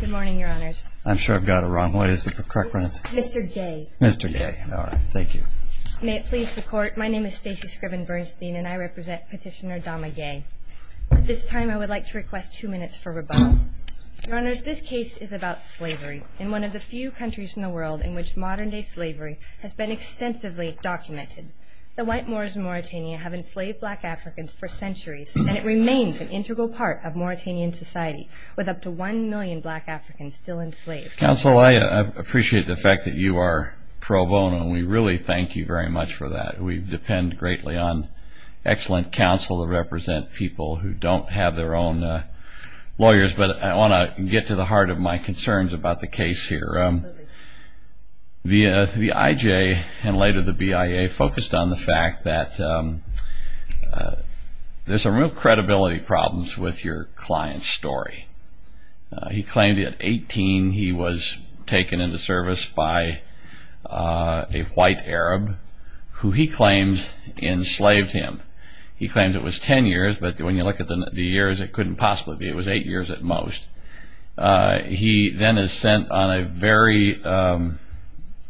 Good morning, Your Honors. I'm sure I've got it wrong. What is the correct pronunciation? Mr. Guiye. Mr. Guiye. All right. Thank you. May it please the Court, my name is Stacey Scriven Bernstein, and I represent Petitioner Dama Guiye. At this time, I would like to request two minutes for rebuttal. Your Honors, this case is about slavery in one of the few countries in the world in which modern-day slavery has been extensively documented. The white Moors in Mauritania have enslaved black Africans for centuries, and it remains an integral part of Mauritanian society, with up to one million black Africans still enslaved. Counsel, I appreciate the fact that you are pro bono, and we really thank you very much for that. We depend greatly on excellent counsel to represent people who don't have their own lawyers, but I want to get to the heart of my concerns about the case here. The IJ, and later the BIA, focused on the fact that there's some real credibility problems with your client's story. He claimed at 18 he was taken into service by a white Arab, who he claims enslaved him. He claimed it was 10 years, but when you look at the years, it couldn't possibly be. It was 8 years at most. He then is sent on a very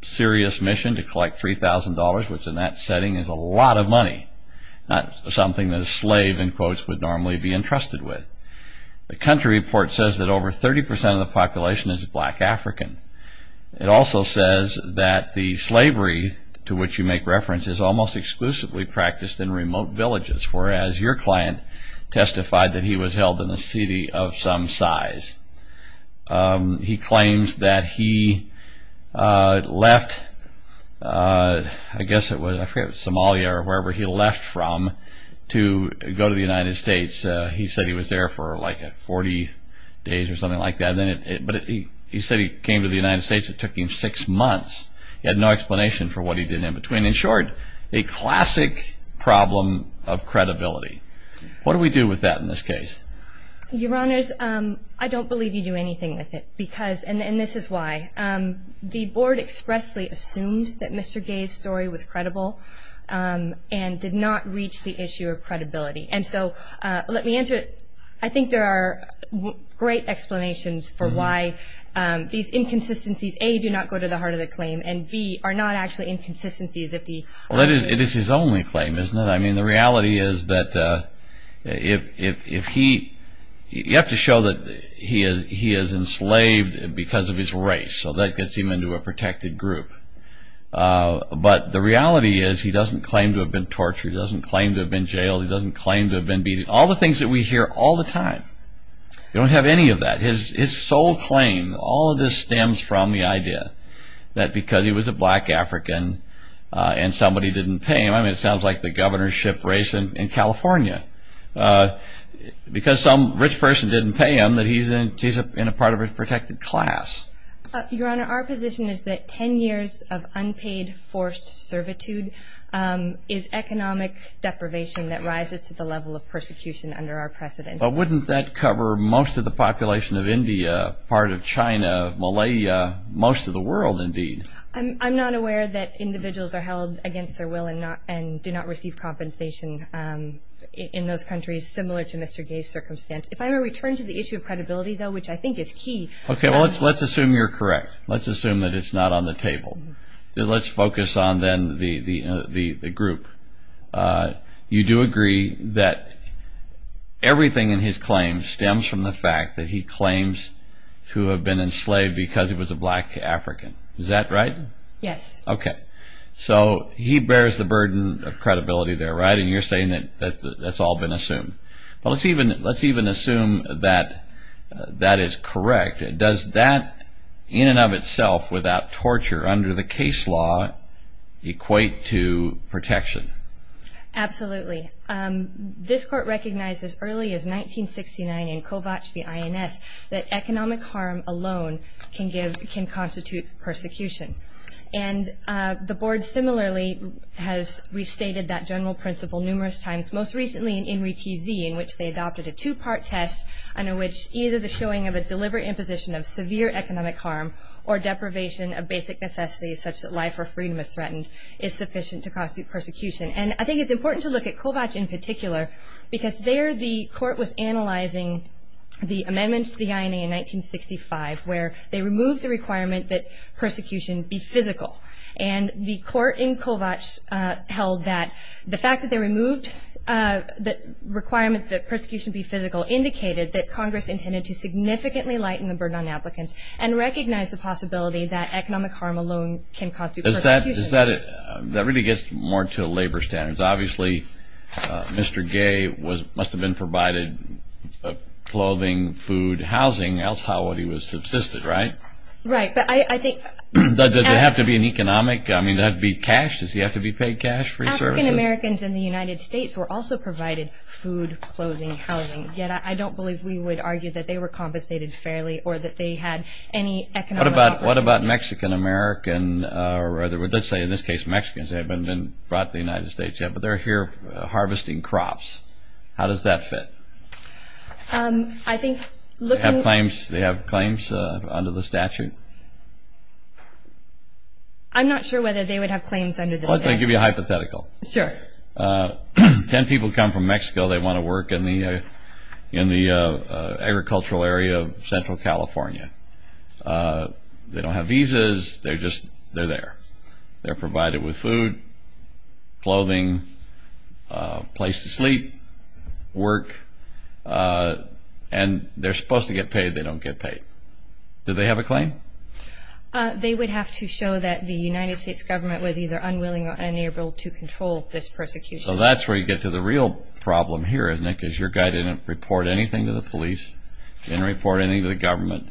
serious mission to collect $3,000, which in that setting is a lot of money, not something that a slave, in quotes, would normally be entrusted with. The country report says that over 30% of the population is black African. It also says that the slavery to which you make reference is almost exclusively practiced in remote villages, whereas your client testified that he was held in a city of some size. He claims that he left, I guess it was Somalia or wherever he left from to go to the United States. He said he was there for like 40 days or something like that, but he said he came to the United States. It took him 6 months. He had no explanation for what he did in between. In short, a classic problem of credibility. What do we do with that in this case? Your Honors, I don't believe you do anything with it, and this is why. The Board expressly assumed that Mr. Gay's story was credible and did not reach the issue of credibility. I think there are great explanations for why these inconsistencies, A, do not go to the Well, it is his only claim, isn't it? I mean, the reality is that you have to show that he is enslaved because of his race, so that gets him into a protected group. But the reality is he doesn't claim to have been tortured, he doesn't claim to have been jailed, he doesn't claim to have been beaten. All the things that we hear all the time, we don't have any of that. His sole claim, all of this stems from the idea that because he was a black African and somebody didn't pay him, I mean, it sounds like the governorship race in California. Because some rich person didn't pay him, that he's in a part of a protected class. Your Honor, our position is that 10 years of unpaid forced servitude is economic deprivation that rises to the level of persecution under our precedent. But wouldn't that cover most of the population of India, part of China, Malaya, most of the world, indeed? I'm not aware that individuals are held against their will and do not receive compensation in those countries, similar to Mr. Gay's circumstance. If I were to return to the issue of credibility, though, which I think is key. Okay, well, let's assume you're correct. Let's assume that it's not on the table. Let's focus on, then, the group. You do agree that everything in his claim stems from the fact that he claims to have been enslaved because he was a black African. Is that right? Yes. Okay. So he bears the burden of credibility there, right? And you're saying that that's all been assumed. But let's even assume that that is correct. Does that, in and of itself, without torture under the case law, equate to protection? Absolutely. This court recognized as early as 1969 in Kovach v. INS that economic harm alone can constitute persecution. And the board, similarly, has restated that general principle numerous times, most recently in INRI TZ, in which they adopted a two-part test under which either the showing of a deliberate imposition of severe economic harm or deprivation of basic necessities, such that life or freedom is threatened, is sufficient to constitute persecution. And I think it's important to look at Kovach in particular, because there the court was analyzing the amendments to the INA in 1965, where they removed the requirement that persecution be physical. And the court in Kovach held that the fact that they removed the requirement that and recognized the possibility that economic harm alone can constitute persecution. That really gets more to labor standards. Obviously, Mr. Gay must have been provided clothing, food, housing, else how would he have subsisted, right? Right. But I think... Does it have to be an economic? I mean, does it have to be cash? Does he have to be paid cash for his services? African-Americans in the United States were also provided food, clothing, housing. Yet, I don't believe we would argue that they were compensated fairly or that they had any economic opportunity. What about Mexican-American or let's say in this case Mexicans? They haven't been brought to the United States yet, but they're here harvesting crops. How does that fit? I think looking... Do they have claims under the statute? I'm not sure whether they would have claims under the statute. Well, I'll give you a hypothetical. Sure. Ten people come from Mexico. They want to work in the agricultural area of central California. They don't have visas. They're just there. They're provided with food, clothing, a place to sleep, work. And they're supposed to get paid. They don't get paid. Do they have a claim? They would have to show that the United States government was either unwilling or unable to control this persecution. So that's where you get to the real problem here, isn't it? Because your guy didn't report anything to the police, didn't report anything to the government.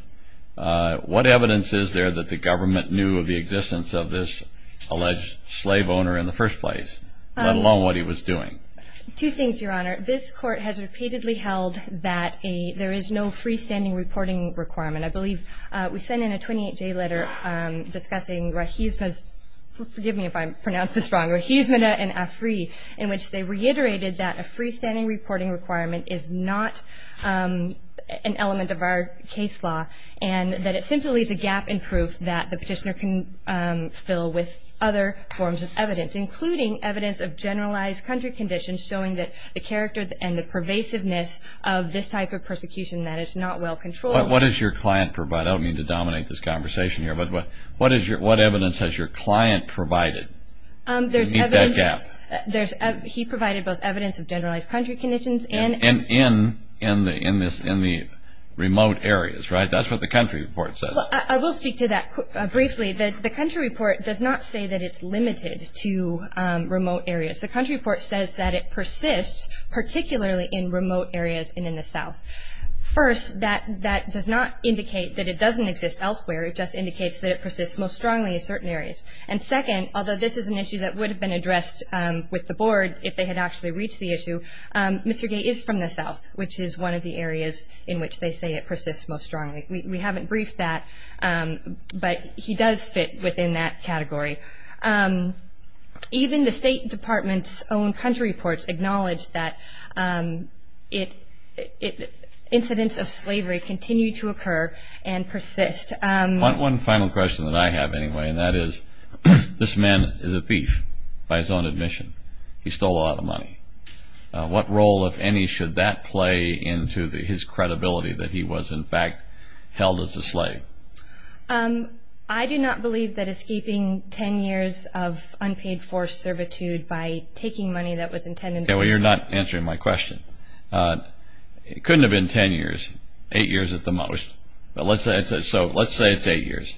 What evidence is there that the government knew of the existence of this alleged slave owner in the first place, let alone what he was doing? Two things, Your Honor. This court has repeatedly held that there is no freestanding reporting requirement. I believe we sent in a 28-J letter discussing Rahizma's, forgive me if I pronounce this wrong, Rahizma and Afri, in which they reiterated that a freestanding reporting requirement is not an element of our case law and that it simply leaves a gap in proof that the petitioner can fill with other forms of evidence, including evidence of generalized country conditions showing that the character and the pervasiveness of this type of persecution, that it's not well controlled. What does your client provide? I don't mean to dominate this conversation here, but what evidence has your client provided to meet that gap? He provided both evidence of generalized country conditions and in the remote areas, right? That's what the country report says. I will speak to that briefly. The country report does not say that it's limited to remote areas. The country report says that it persists particularly in remote areas and in the south. First, that does not indicate that it doesn't exist elsewhere. It just indicates that it persists most strongly in certain areas. And second, although this is an issue that would have been addressed with the board if they had actually reached the issue, Mr. Gay is from the south, which is one of the areas in which they say it persists most strongly. We haven't briefed that, but he does fit within that category. Even the State Department's own country reports acknowledge that incidents of slavery continue to occur and persist. One final question that I have anyway, and that is this man is a thief by his own admission. He stole a lot of money. What role, if any, should that play into his credibility that he was, in fact, held as a slave? I do not believe that escaping 10 years of unpaid forced servitude by taking money that was intended for him. Yeah, well, you're not answering my question. It couldn't have been 10 years, 8 years at the most. So let's say it's 8 years.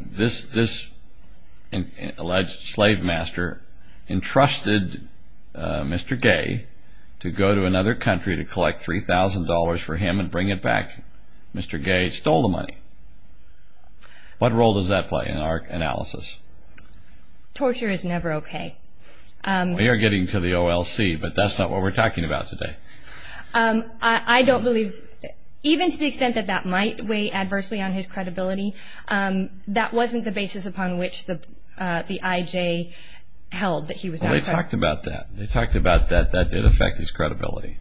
This alleged slave master entrusted Mr. Gay to go to another country to collect $3,000 for him and bring it back. Mr. Gay stole the money. What role does that play in our analysis? Torture is never okay. Well, you're getting to the OLC, but that's not what we're talking about today. I don't believe, even to the extent that that might weigh adversely on his credibility, that wasn't the basis upon which the IJ held that he was not correct. Well, they talked about that. They talked about that that did affect his credibility.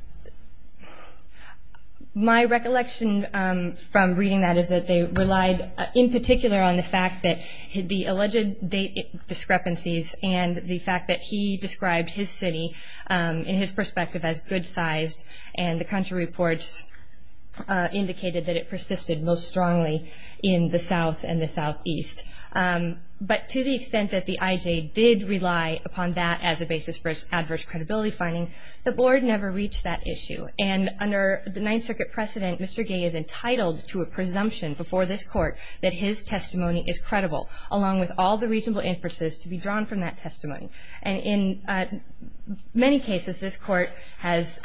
My recollection from reading that is that they relied in particular on the fact that the alleged date discrepancies and the fact that he described his city in his perspective as good-sized and the country reports indicated that it persisted most strongly in the south and the southeast. But to the extent that the IJ did rely upon that as a basis for its adverse credibility finding, the Board never reached that issue. And under the Ninth Circuit precedent, Mr. Gay is entitled to a presumption before this Court that his testimony is credible, along with all the reasonable inferences to be drawn from that testimony. And in many cases, this Court has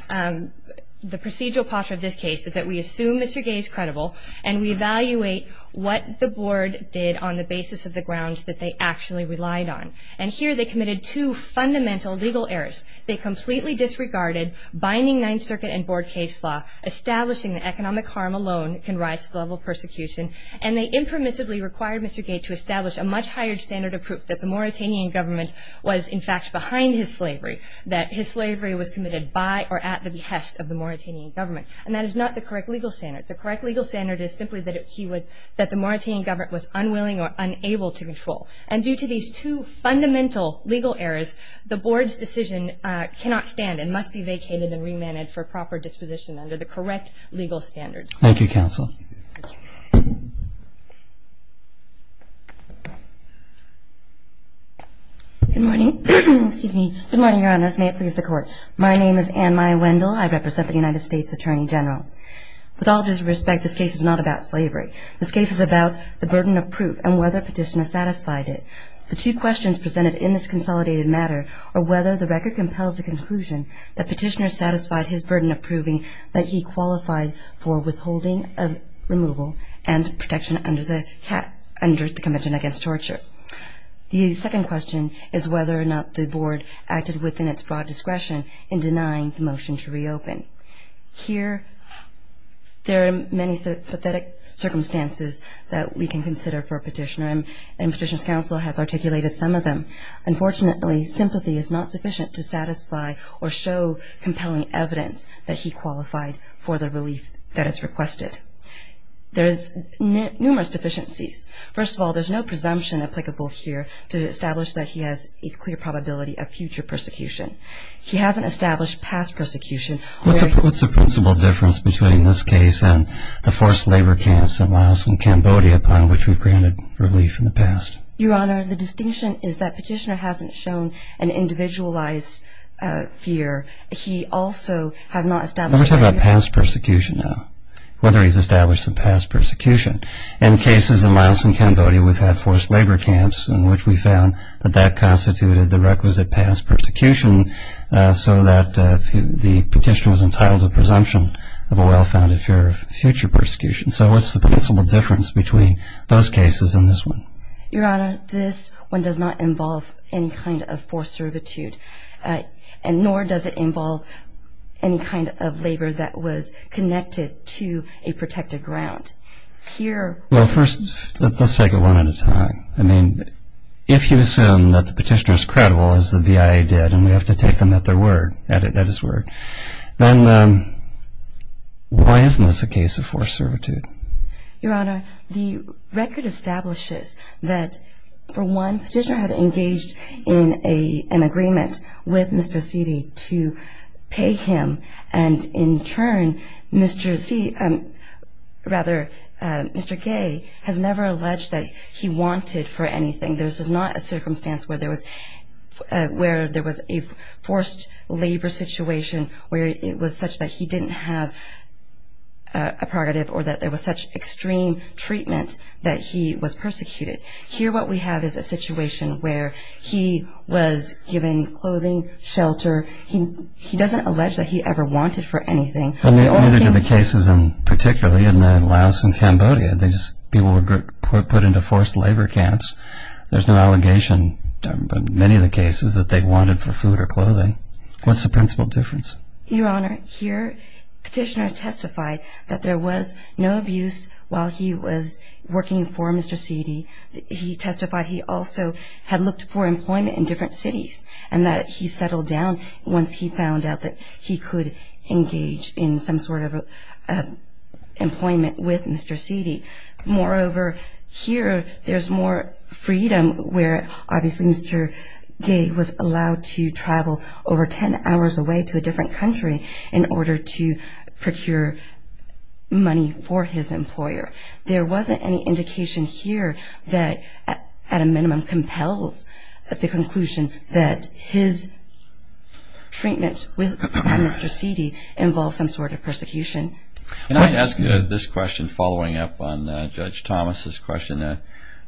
the procedural posture of this case that we assume Mr. Gay is credible and we evaluate what the Board did on the basis of the grounds that they actually relied on. And here they committed two fundamental legal errors. They completely disregarded binding Ninth Circuit and Board case law, establishing that economic harm alone can rise to the level of persecution, and they impermissibly required Mr. Gay to establish a much higher standard of proof that the Mauritanian government was in fact behind his slavery, that his slavery was committed by or at the behest of the Mauritanian government. And that is not the correct legal standard. The correct legal standard is simply that the Mauritanian government was unwilling or unable to control. And due to these two fundamental legal errors, the Board's decision cannot stand and must be vacated and remanded for proper disposition under the correct legal standards. Thank you, Counsel. Good morning. Excuse me. Good morning, Your Honors. May it please the Court. My name is Anne-Maya Wendell. I represent the United States Attorney General. With all due respect, this case is not about slavery. This case is about the burden of proof and whether Petitioner satisfied it. The two questions presented in this consolidated matter are whether the record compels the conclusion that Petitioner satisfied his burden of proving that he qualified for withholding of removal and protection under the Convention Against Torture. The second question is whether or not the Board acted within its broad discretion in denying the motion to reopen. Here there are many pathetic circumstances that we can consider for Petitioner and Petitioner's Counsel has articulated some of them. Unfortunately, sympathy is not sufficient to satisfy or show compelling evidence that he qualified for the relief that is requested. There is numerous deficiencies. First of all, there's no presumption applicable here to establish that he has a clear probability of future persecution. He hasn't established past persecution. What's the principal difference between this case and the forced labor camps in Laos and Cambodia upon which we've granted relief in the past? Your Honor, the distinction is that Petitioner hasn't shown an individualized fear. He also has not established any... Let's talk about past persecution now, whether he's established some past persecution. In cases in Laos and Cambodia, we've had forced labor camps in which we found that that constituted the requisite past persecution so that the Petitioner was entitled to a presumption of a well-founded fear of future persecution. So what's the principal difference between those cases and this one? Your Honor, this one does not involve any kind of forced servitude, nor does it involve any kind of labor that was connected to a protected ground. Here... Well, first, let's take it one at a time. I mean, if you assume that the Petitioner is credible, as the BIA did, and we have to take them at his word, then why isn't this a case of forced servitude? Your Honor, the record establishes that, for one, Petitioner had engaged in an agreement with Mr. Sidi to pay him, and in turn, Mr. Sidi... Rather, Mr. Gay has never alleged that he wanted for anything. This is not a circumstance where there was a forced labor situation where it was such that he didn't have a prerogative or that there was such extreme treatment that he was persecuted. Here what we have is a situation where he was given clothing, shelter. He doesn't allege that he ever wanted for anything. Well, neither do the cases particularly in Laos and Cambodia. These people were put into forced labor camps. There's no allegation in many of the cases that they wanted for food or clothing. What's the principal difference? Your Honor, here Petitioner testified that there was no abuse while he was working for Mr. Sidi. He testified he also had looked for employment in different cities and that he settled down once he found out that he could engage in some sort of employment with Mr. Sidi. Moreover, here there's more freedom where, obviously, Mr. Gay was allowed to travel over 10 hours away to a different country in order to procure money for his employer. I think it compels the conclusion that his treatment with Mr. Sidi involved some sort of persecution. Can I ask you this question following up on Judge Thomas' question?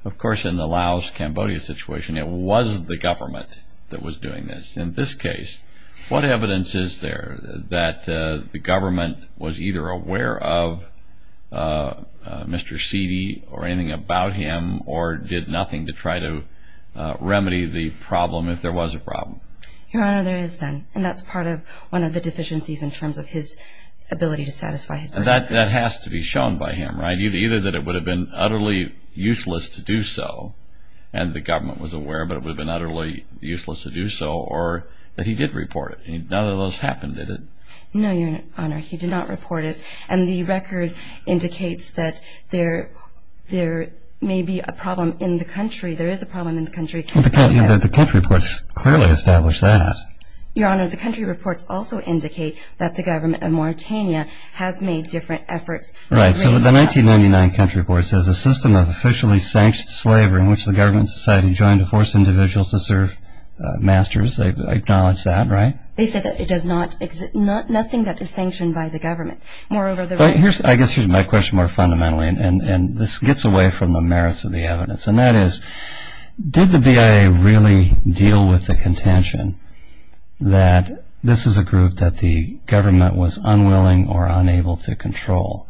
Of course, in the Laos-Cambodia situation, it was the government that was doing this. In this case, what evidence is there that the government was either aware of Mr. Sidi or anything about him or did nothing to try to remedy the problem if there was a problem? Your Honor, there is none, and that's part of one of the deficiencies in terms of his ability to satisfy his purpose. That has to be shown by him, right? Either that it would have been utterly useless to do so, and the government was aware, but it would have been utterly useless to do so, or that he did report it. None of those happened, did it? No, Your Honor, he did not report it. And the record indicates that there may be a problem in the country. There is a problem in the country. The country reports clearly establish that. Your Honor, the country reports also indicate that the government of Mauritania has made different efforts. Right, so the 1999 country report says a system of officially sanctioned slavery in which the government and society joined to force individuals to serve masters. They acknowledge that, right? They say that it does not exist, nothing that is sanctioned by the government. I guess here's my question more fundamentally, and this gets away from the merits of the evidence, and that is did the BIA really deal with the contention that this is a group that the government was unwilling or unable to control?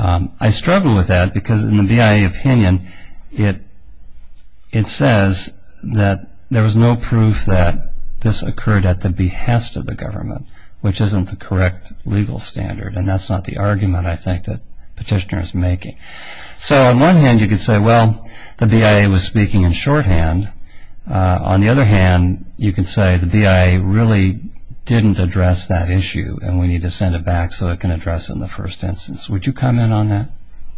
I struggle with that because in the BIA opinion, it says that there was no proof that this occurred at the behest of the government, which isn't the correct legal standard, and that's not the argument I think that Petitioner is making. So on one hand, you could say, well, the BIA was speaking in shorthand. On the other hand, you could say the BIA really didn't address that issue and we need to send it back so it can address it in the first instance. Would you comment on that?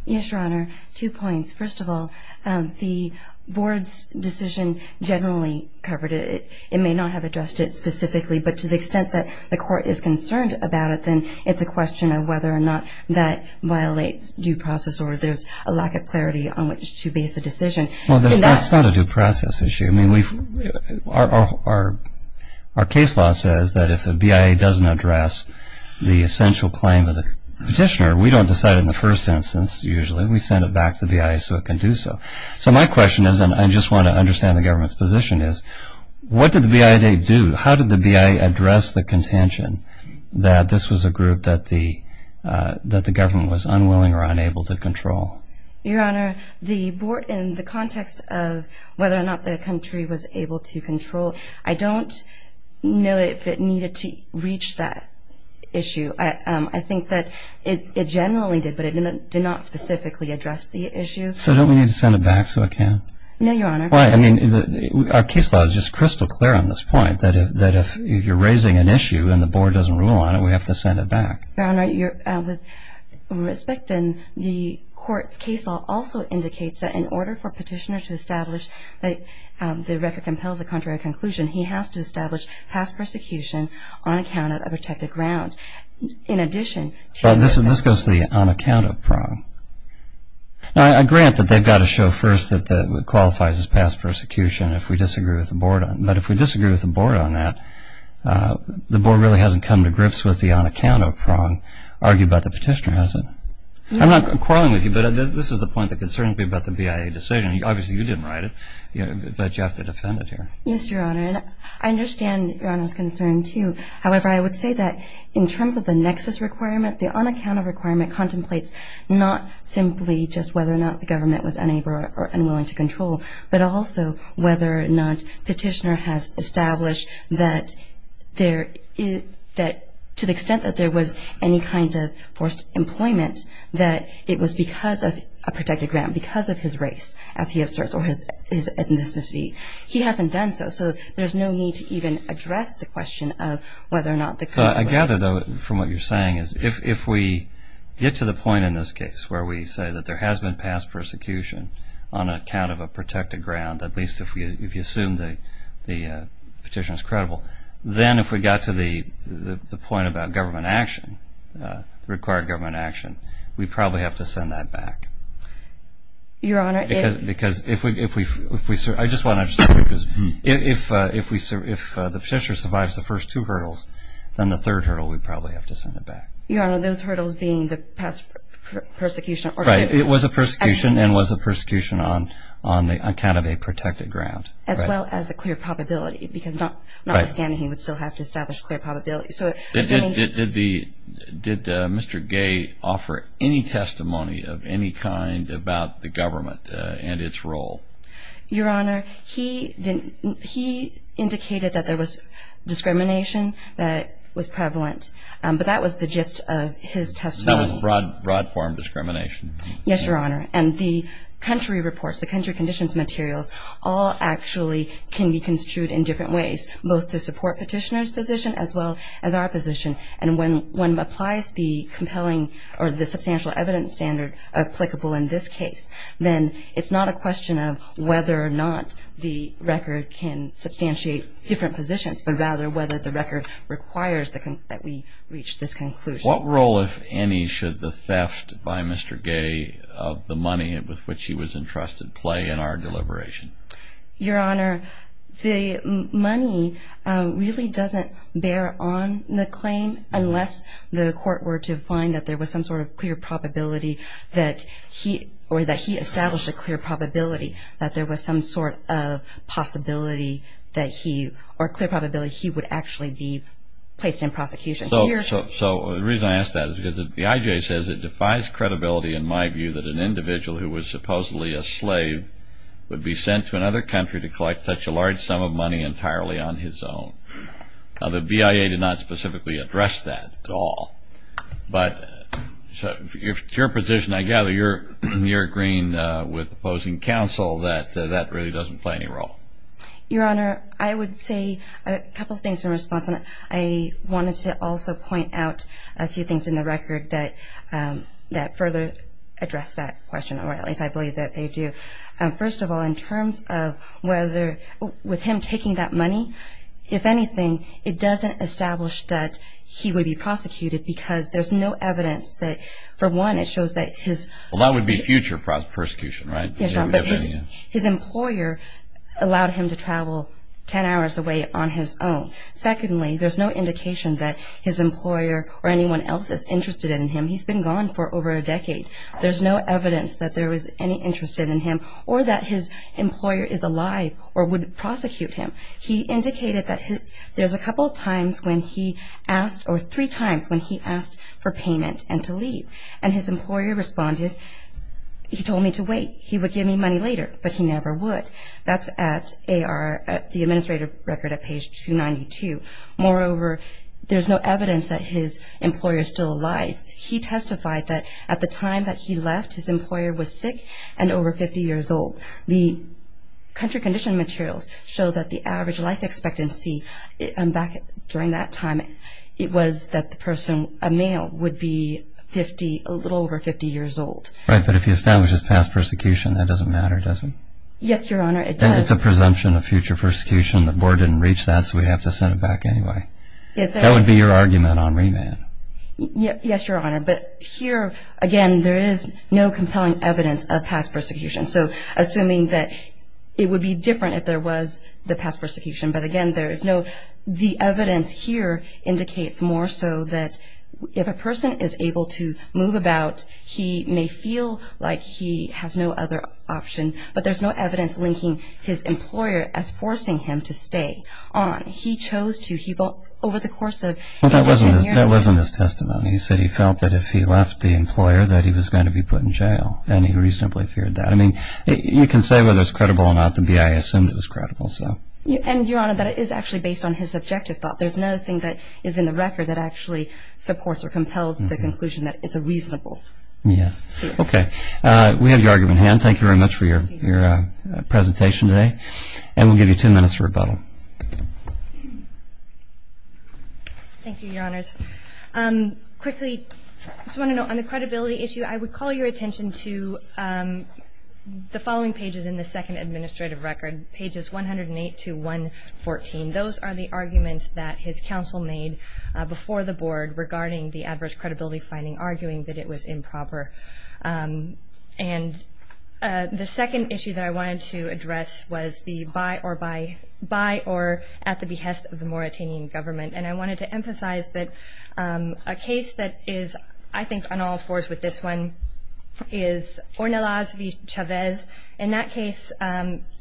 Yes, Your Honor. Two points. First of all, the Board's decision generally covered it. It may not have addressed it specifically, but to the extent that the court is concerned about it, then it's a question of whether or not that violates due process or there's a lack of clarity on which to base a decision. Well, that's not a due process issue. Our case law says that if the BIA doesn't address the essential claim of the Petitioner, we don't decide it in the first instance usually. We send it back to the BIA so it can do so. So my question is, and I just want to understand the government's position, is what did the BIA do? How did the BIA address the contention that this was a group that the government was unwilling or unable to control? Your Honor, the Board, in the context of whether or not the country was able to control, I don't know if it needed to reach that issue. I think that it generally did, but it did not specifically address the issue. So don't we need to send it back so it can? No, Your Honor. I mean, our case law is just crystal clear on this point, that if you're raising an issue and the Board doesn't rule on it, we have to send it back. Your Honor, with respect, then, the court's case law also indicates that in order for Petitioner to establish that the record compels a contrary conclusion, he has to establish past persecution on account of a protected ground. In addition to that. This goes to the on account of problem. Now, I grant that they've got to show first that it qualifies as past persecution if we disagree with the Board on it. But if we disagree with the Board on that, the Board really hasn't come to grips with the on account of problem, argued by the Petitioner, has it? I'm not quarreling with you, but this is the point that concerns me about the BIA decision. Obviously, you didn't write it, but you have to defend it here. Yes, Your Honor. I understand Your Honor's concern, too. However, I would say that in terms of the nexus requirement, the on account of requirement contemplates not simply just whether or not the government was unable or unwilling to control, but also whether or not Petitioner has established that to the extent that there was any kind of forced employment that it was because of a protected ground, because of his race, as he asserts, or his ethnicity. He hasn't done so. So there's no need to even address the question of whether or not the court was. I gather, though, from what you're saying is if we get to the point in this case where we say that there has been past persecution on account of a protected ground, at least if you assume the Petitioner is credible, then if we got to the point about government action, required government action, we probably have to send that back. Your Honor, if... Because if we... I just want to... If the Petitioner survives the first two hurdles, then the third hurdle we probably have to send it back. Your Honor, those hurdles being the past persecution... Right. It was a persecution and was a persecution on account of a protected ground. As well as the clear probability, because notwithstanding, he would still have to establish clear probability. Did Mr. Gay offer any testimony of any kind about the government and its role? Your Honor, he indicated that there was discrimination that was prevalent. But that was the gist of his testimony. That was broad form discrimination. Yes, Your Honor. And the country reports, the country conditions materials, all actually can be construed in different ways, both to support Petitioner's position as well as our position. And when one applies the compelling or the substantial evidence standard applicable in this case, then it's not a question of whether or not the record can substantiate different positions, but rather whether the record requires that we reach this conclusion. What role, if any, should the theft by Mr. Gay of the money with which he was entrusted play in our deliberation? Your Honor, the money really doesn't bear on the claim unless the court were to find that there was some sort of clear probability or that he established a clear probability that there was some sort of possibility or clear probability he would actually be placed in prosecution. So the reason I ask that is because the IJ says it defies credibility in my view that an individual who was supposedly a slave would be sent to another country to collect such a large sum of money entirely on his own. The BIA did not specifically address that at all. But to your position, I gather you're agreeing with opposing counsel that that really doesn't play any role. Your Honor, I would say a couple of things in response. I wanted to also point out a few things in the record that further address that question, or at least I believe that they do. First of all, in terms of whether with him taking that money, if anything, it doesn't establish that he would be prosecuted because there's no evidence that, for one, it shows that his... Well, that would be future prosecution, right? Yes, Your Honor, but his employer allowed him to travel 10 hours away on his own. Secondly, there's no indication that his employer or anyone else is interested in him. He's been gone for over a decade. There's no evidence that there was any interest in him or that his employer is alive or would prosecute him. He indicated that there's a couple of times when he asked or three times when he asked for payment and to leave. And his employer responded, he told me to wait. He would give me money later, but he never would. That's at the administrative record at page 292. Moreover, there's no evidence that his employer is still alive. He testified that at the time that he left, his employer was sick and over 50 years old. The country condition materials show that the average life expectancy back during that time, it was that the person, a male, would be a little over 50 years old. Right, but if he establishes past persecution, that doesn't matter, does it? Yes, Your Honor, it does. Then it's a presumption of future persecution. The board didn't reach that, so we'd have to send it back anyway. That would be your argument on remand. Yes, Your Honor, but here, again, there is no compelling evidence of past persecution. So assuming that it would be different if there was the past persecution, but, again, there is no. The evidence here indicates more so that if a person is able to move about, he may feel like he has no other option, but there's no evidence linking his employer as forcing him to stay on. He chose to. He felt over the course of 10 years. Well, that wasn't his testimony. He said he felt that if he left the employer that he was going to be put in jail, and he reasonably feared that. I mean, you can say whether it's credible or not. The BIA assumed it was credible, so. And, Your Honor, that is actually based on his subjective thought. There's nothing that is in the record that actually supports or compels the conclusion that it's a reasonable statement. Yes, okay. We have your argument in hand. Thank you very much for your presentation today, and we'll give you two minutes for rebuttal. Thank you, Your Honors. Quickly, I just want to note on the credibility issue, I would call your attention to the following pages in the second administrative record, pages 108 to 114. Those are the arguments that his counsel made before the board regarding the adverse credibility finding, arguing that it was improper. And the second issue that I wanted to address was the by or at the behest of the Mauritanian government, and I wanted to emphasize that a case that is, I think, on all fours with this one is Ornelas v. Chavez. In that case,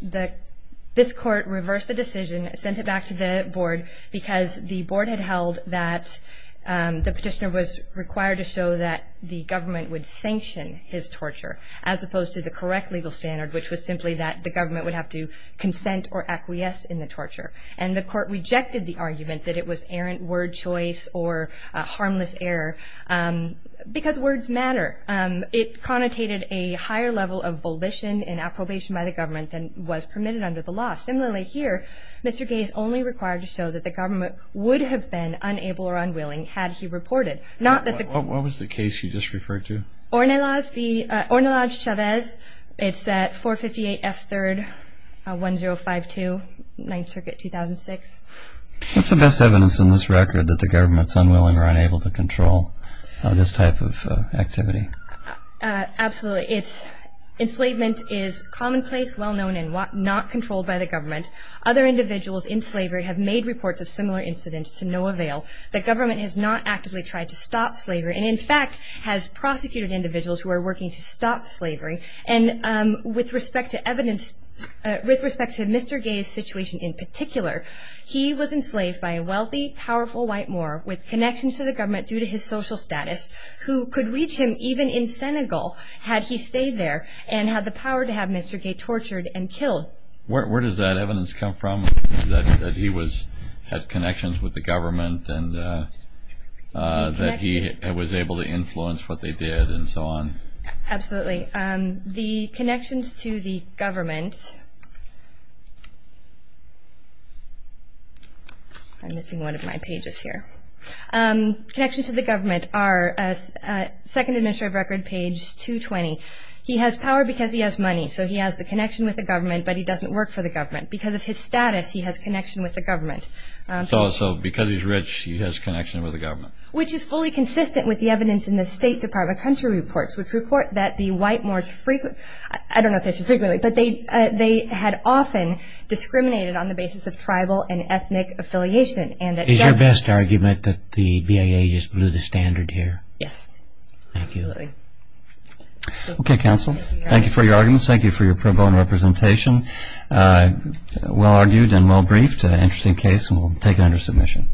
this court reversed the decision, sent it back to the board, because the board had held that the petitioner was required to show that the government would sanction his torture, as opposed to the correct legal standard, which was simply that the government would have to consent or acquiesce in the torture. And the court rejected the argument that it was errant word choice or harmless error, because words matter. It connotated a higher level of volition and approbation by the government than was permitted under the law. Similarly here, Mr. Gay is only required to show that the government would have been unable or unwilling had he reported. What was the case you just referred to? Ornelas v. Ornelas Chavez. It's 458 F. 3rd, 1052, 9th Circuit, 2006. What's the best evidence in this record that the government's unwilling or unable to control this type of activity? Absolutely. It's enslavement is commonplace, well-known, and not controlled by the government. Other individuals in slavery have made reports of similar incidents to no avail. The government has not actively tried to stop slavery and, in fact, has prosecuted individuals who are working to stop slavery. And with respect to evidence, with respect to Mr. Gay's situation in particular, he was enslaved by a wealthy, powerful white moor with connections to the government due to his social status, who could reach him even in Senegal had he stayed there and had the power to have Mr. Gay tortured and killed. Where does that evidence come from, that he had connections with the government and that he was able to influence what they did and so on? Absolutely. The connections to the government – I'm missing one of my pages here. Connections to the government are 2nd Administrative Record, page 220. He has power because he has money, so he has the connection with the government, but he doesn't work for the government. Because of his status, he has connection with the government. So because he's rich, he has connection with the government. Which is fully consistent with the evidence in the State Department Country Reports, which report that the white moors frequently – I don't know if they say frequently, but they had often discriminated on the basis of tribal and ethnic affiliation. Is your best argument that the BIA just blew the standard here? Yes. Thank you. Absolutely. Okay, counsel. Thank you for your arguments. Thank you for your pro bono representation. Well argued and well briefed. An interesting case, and we'll take it under submission.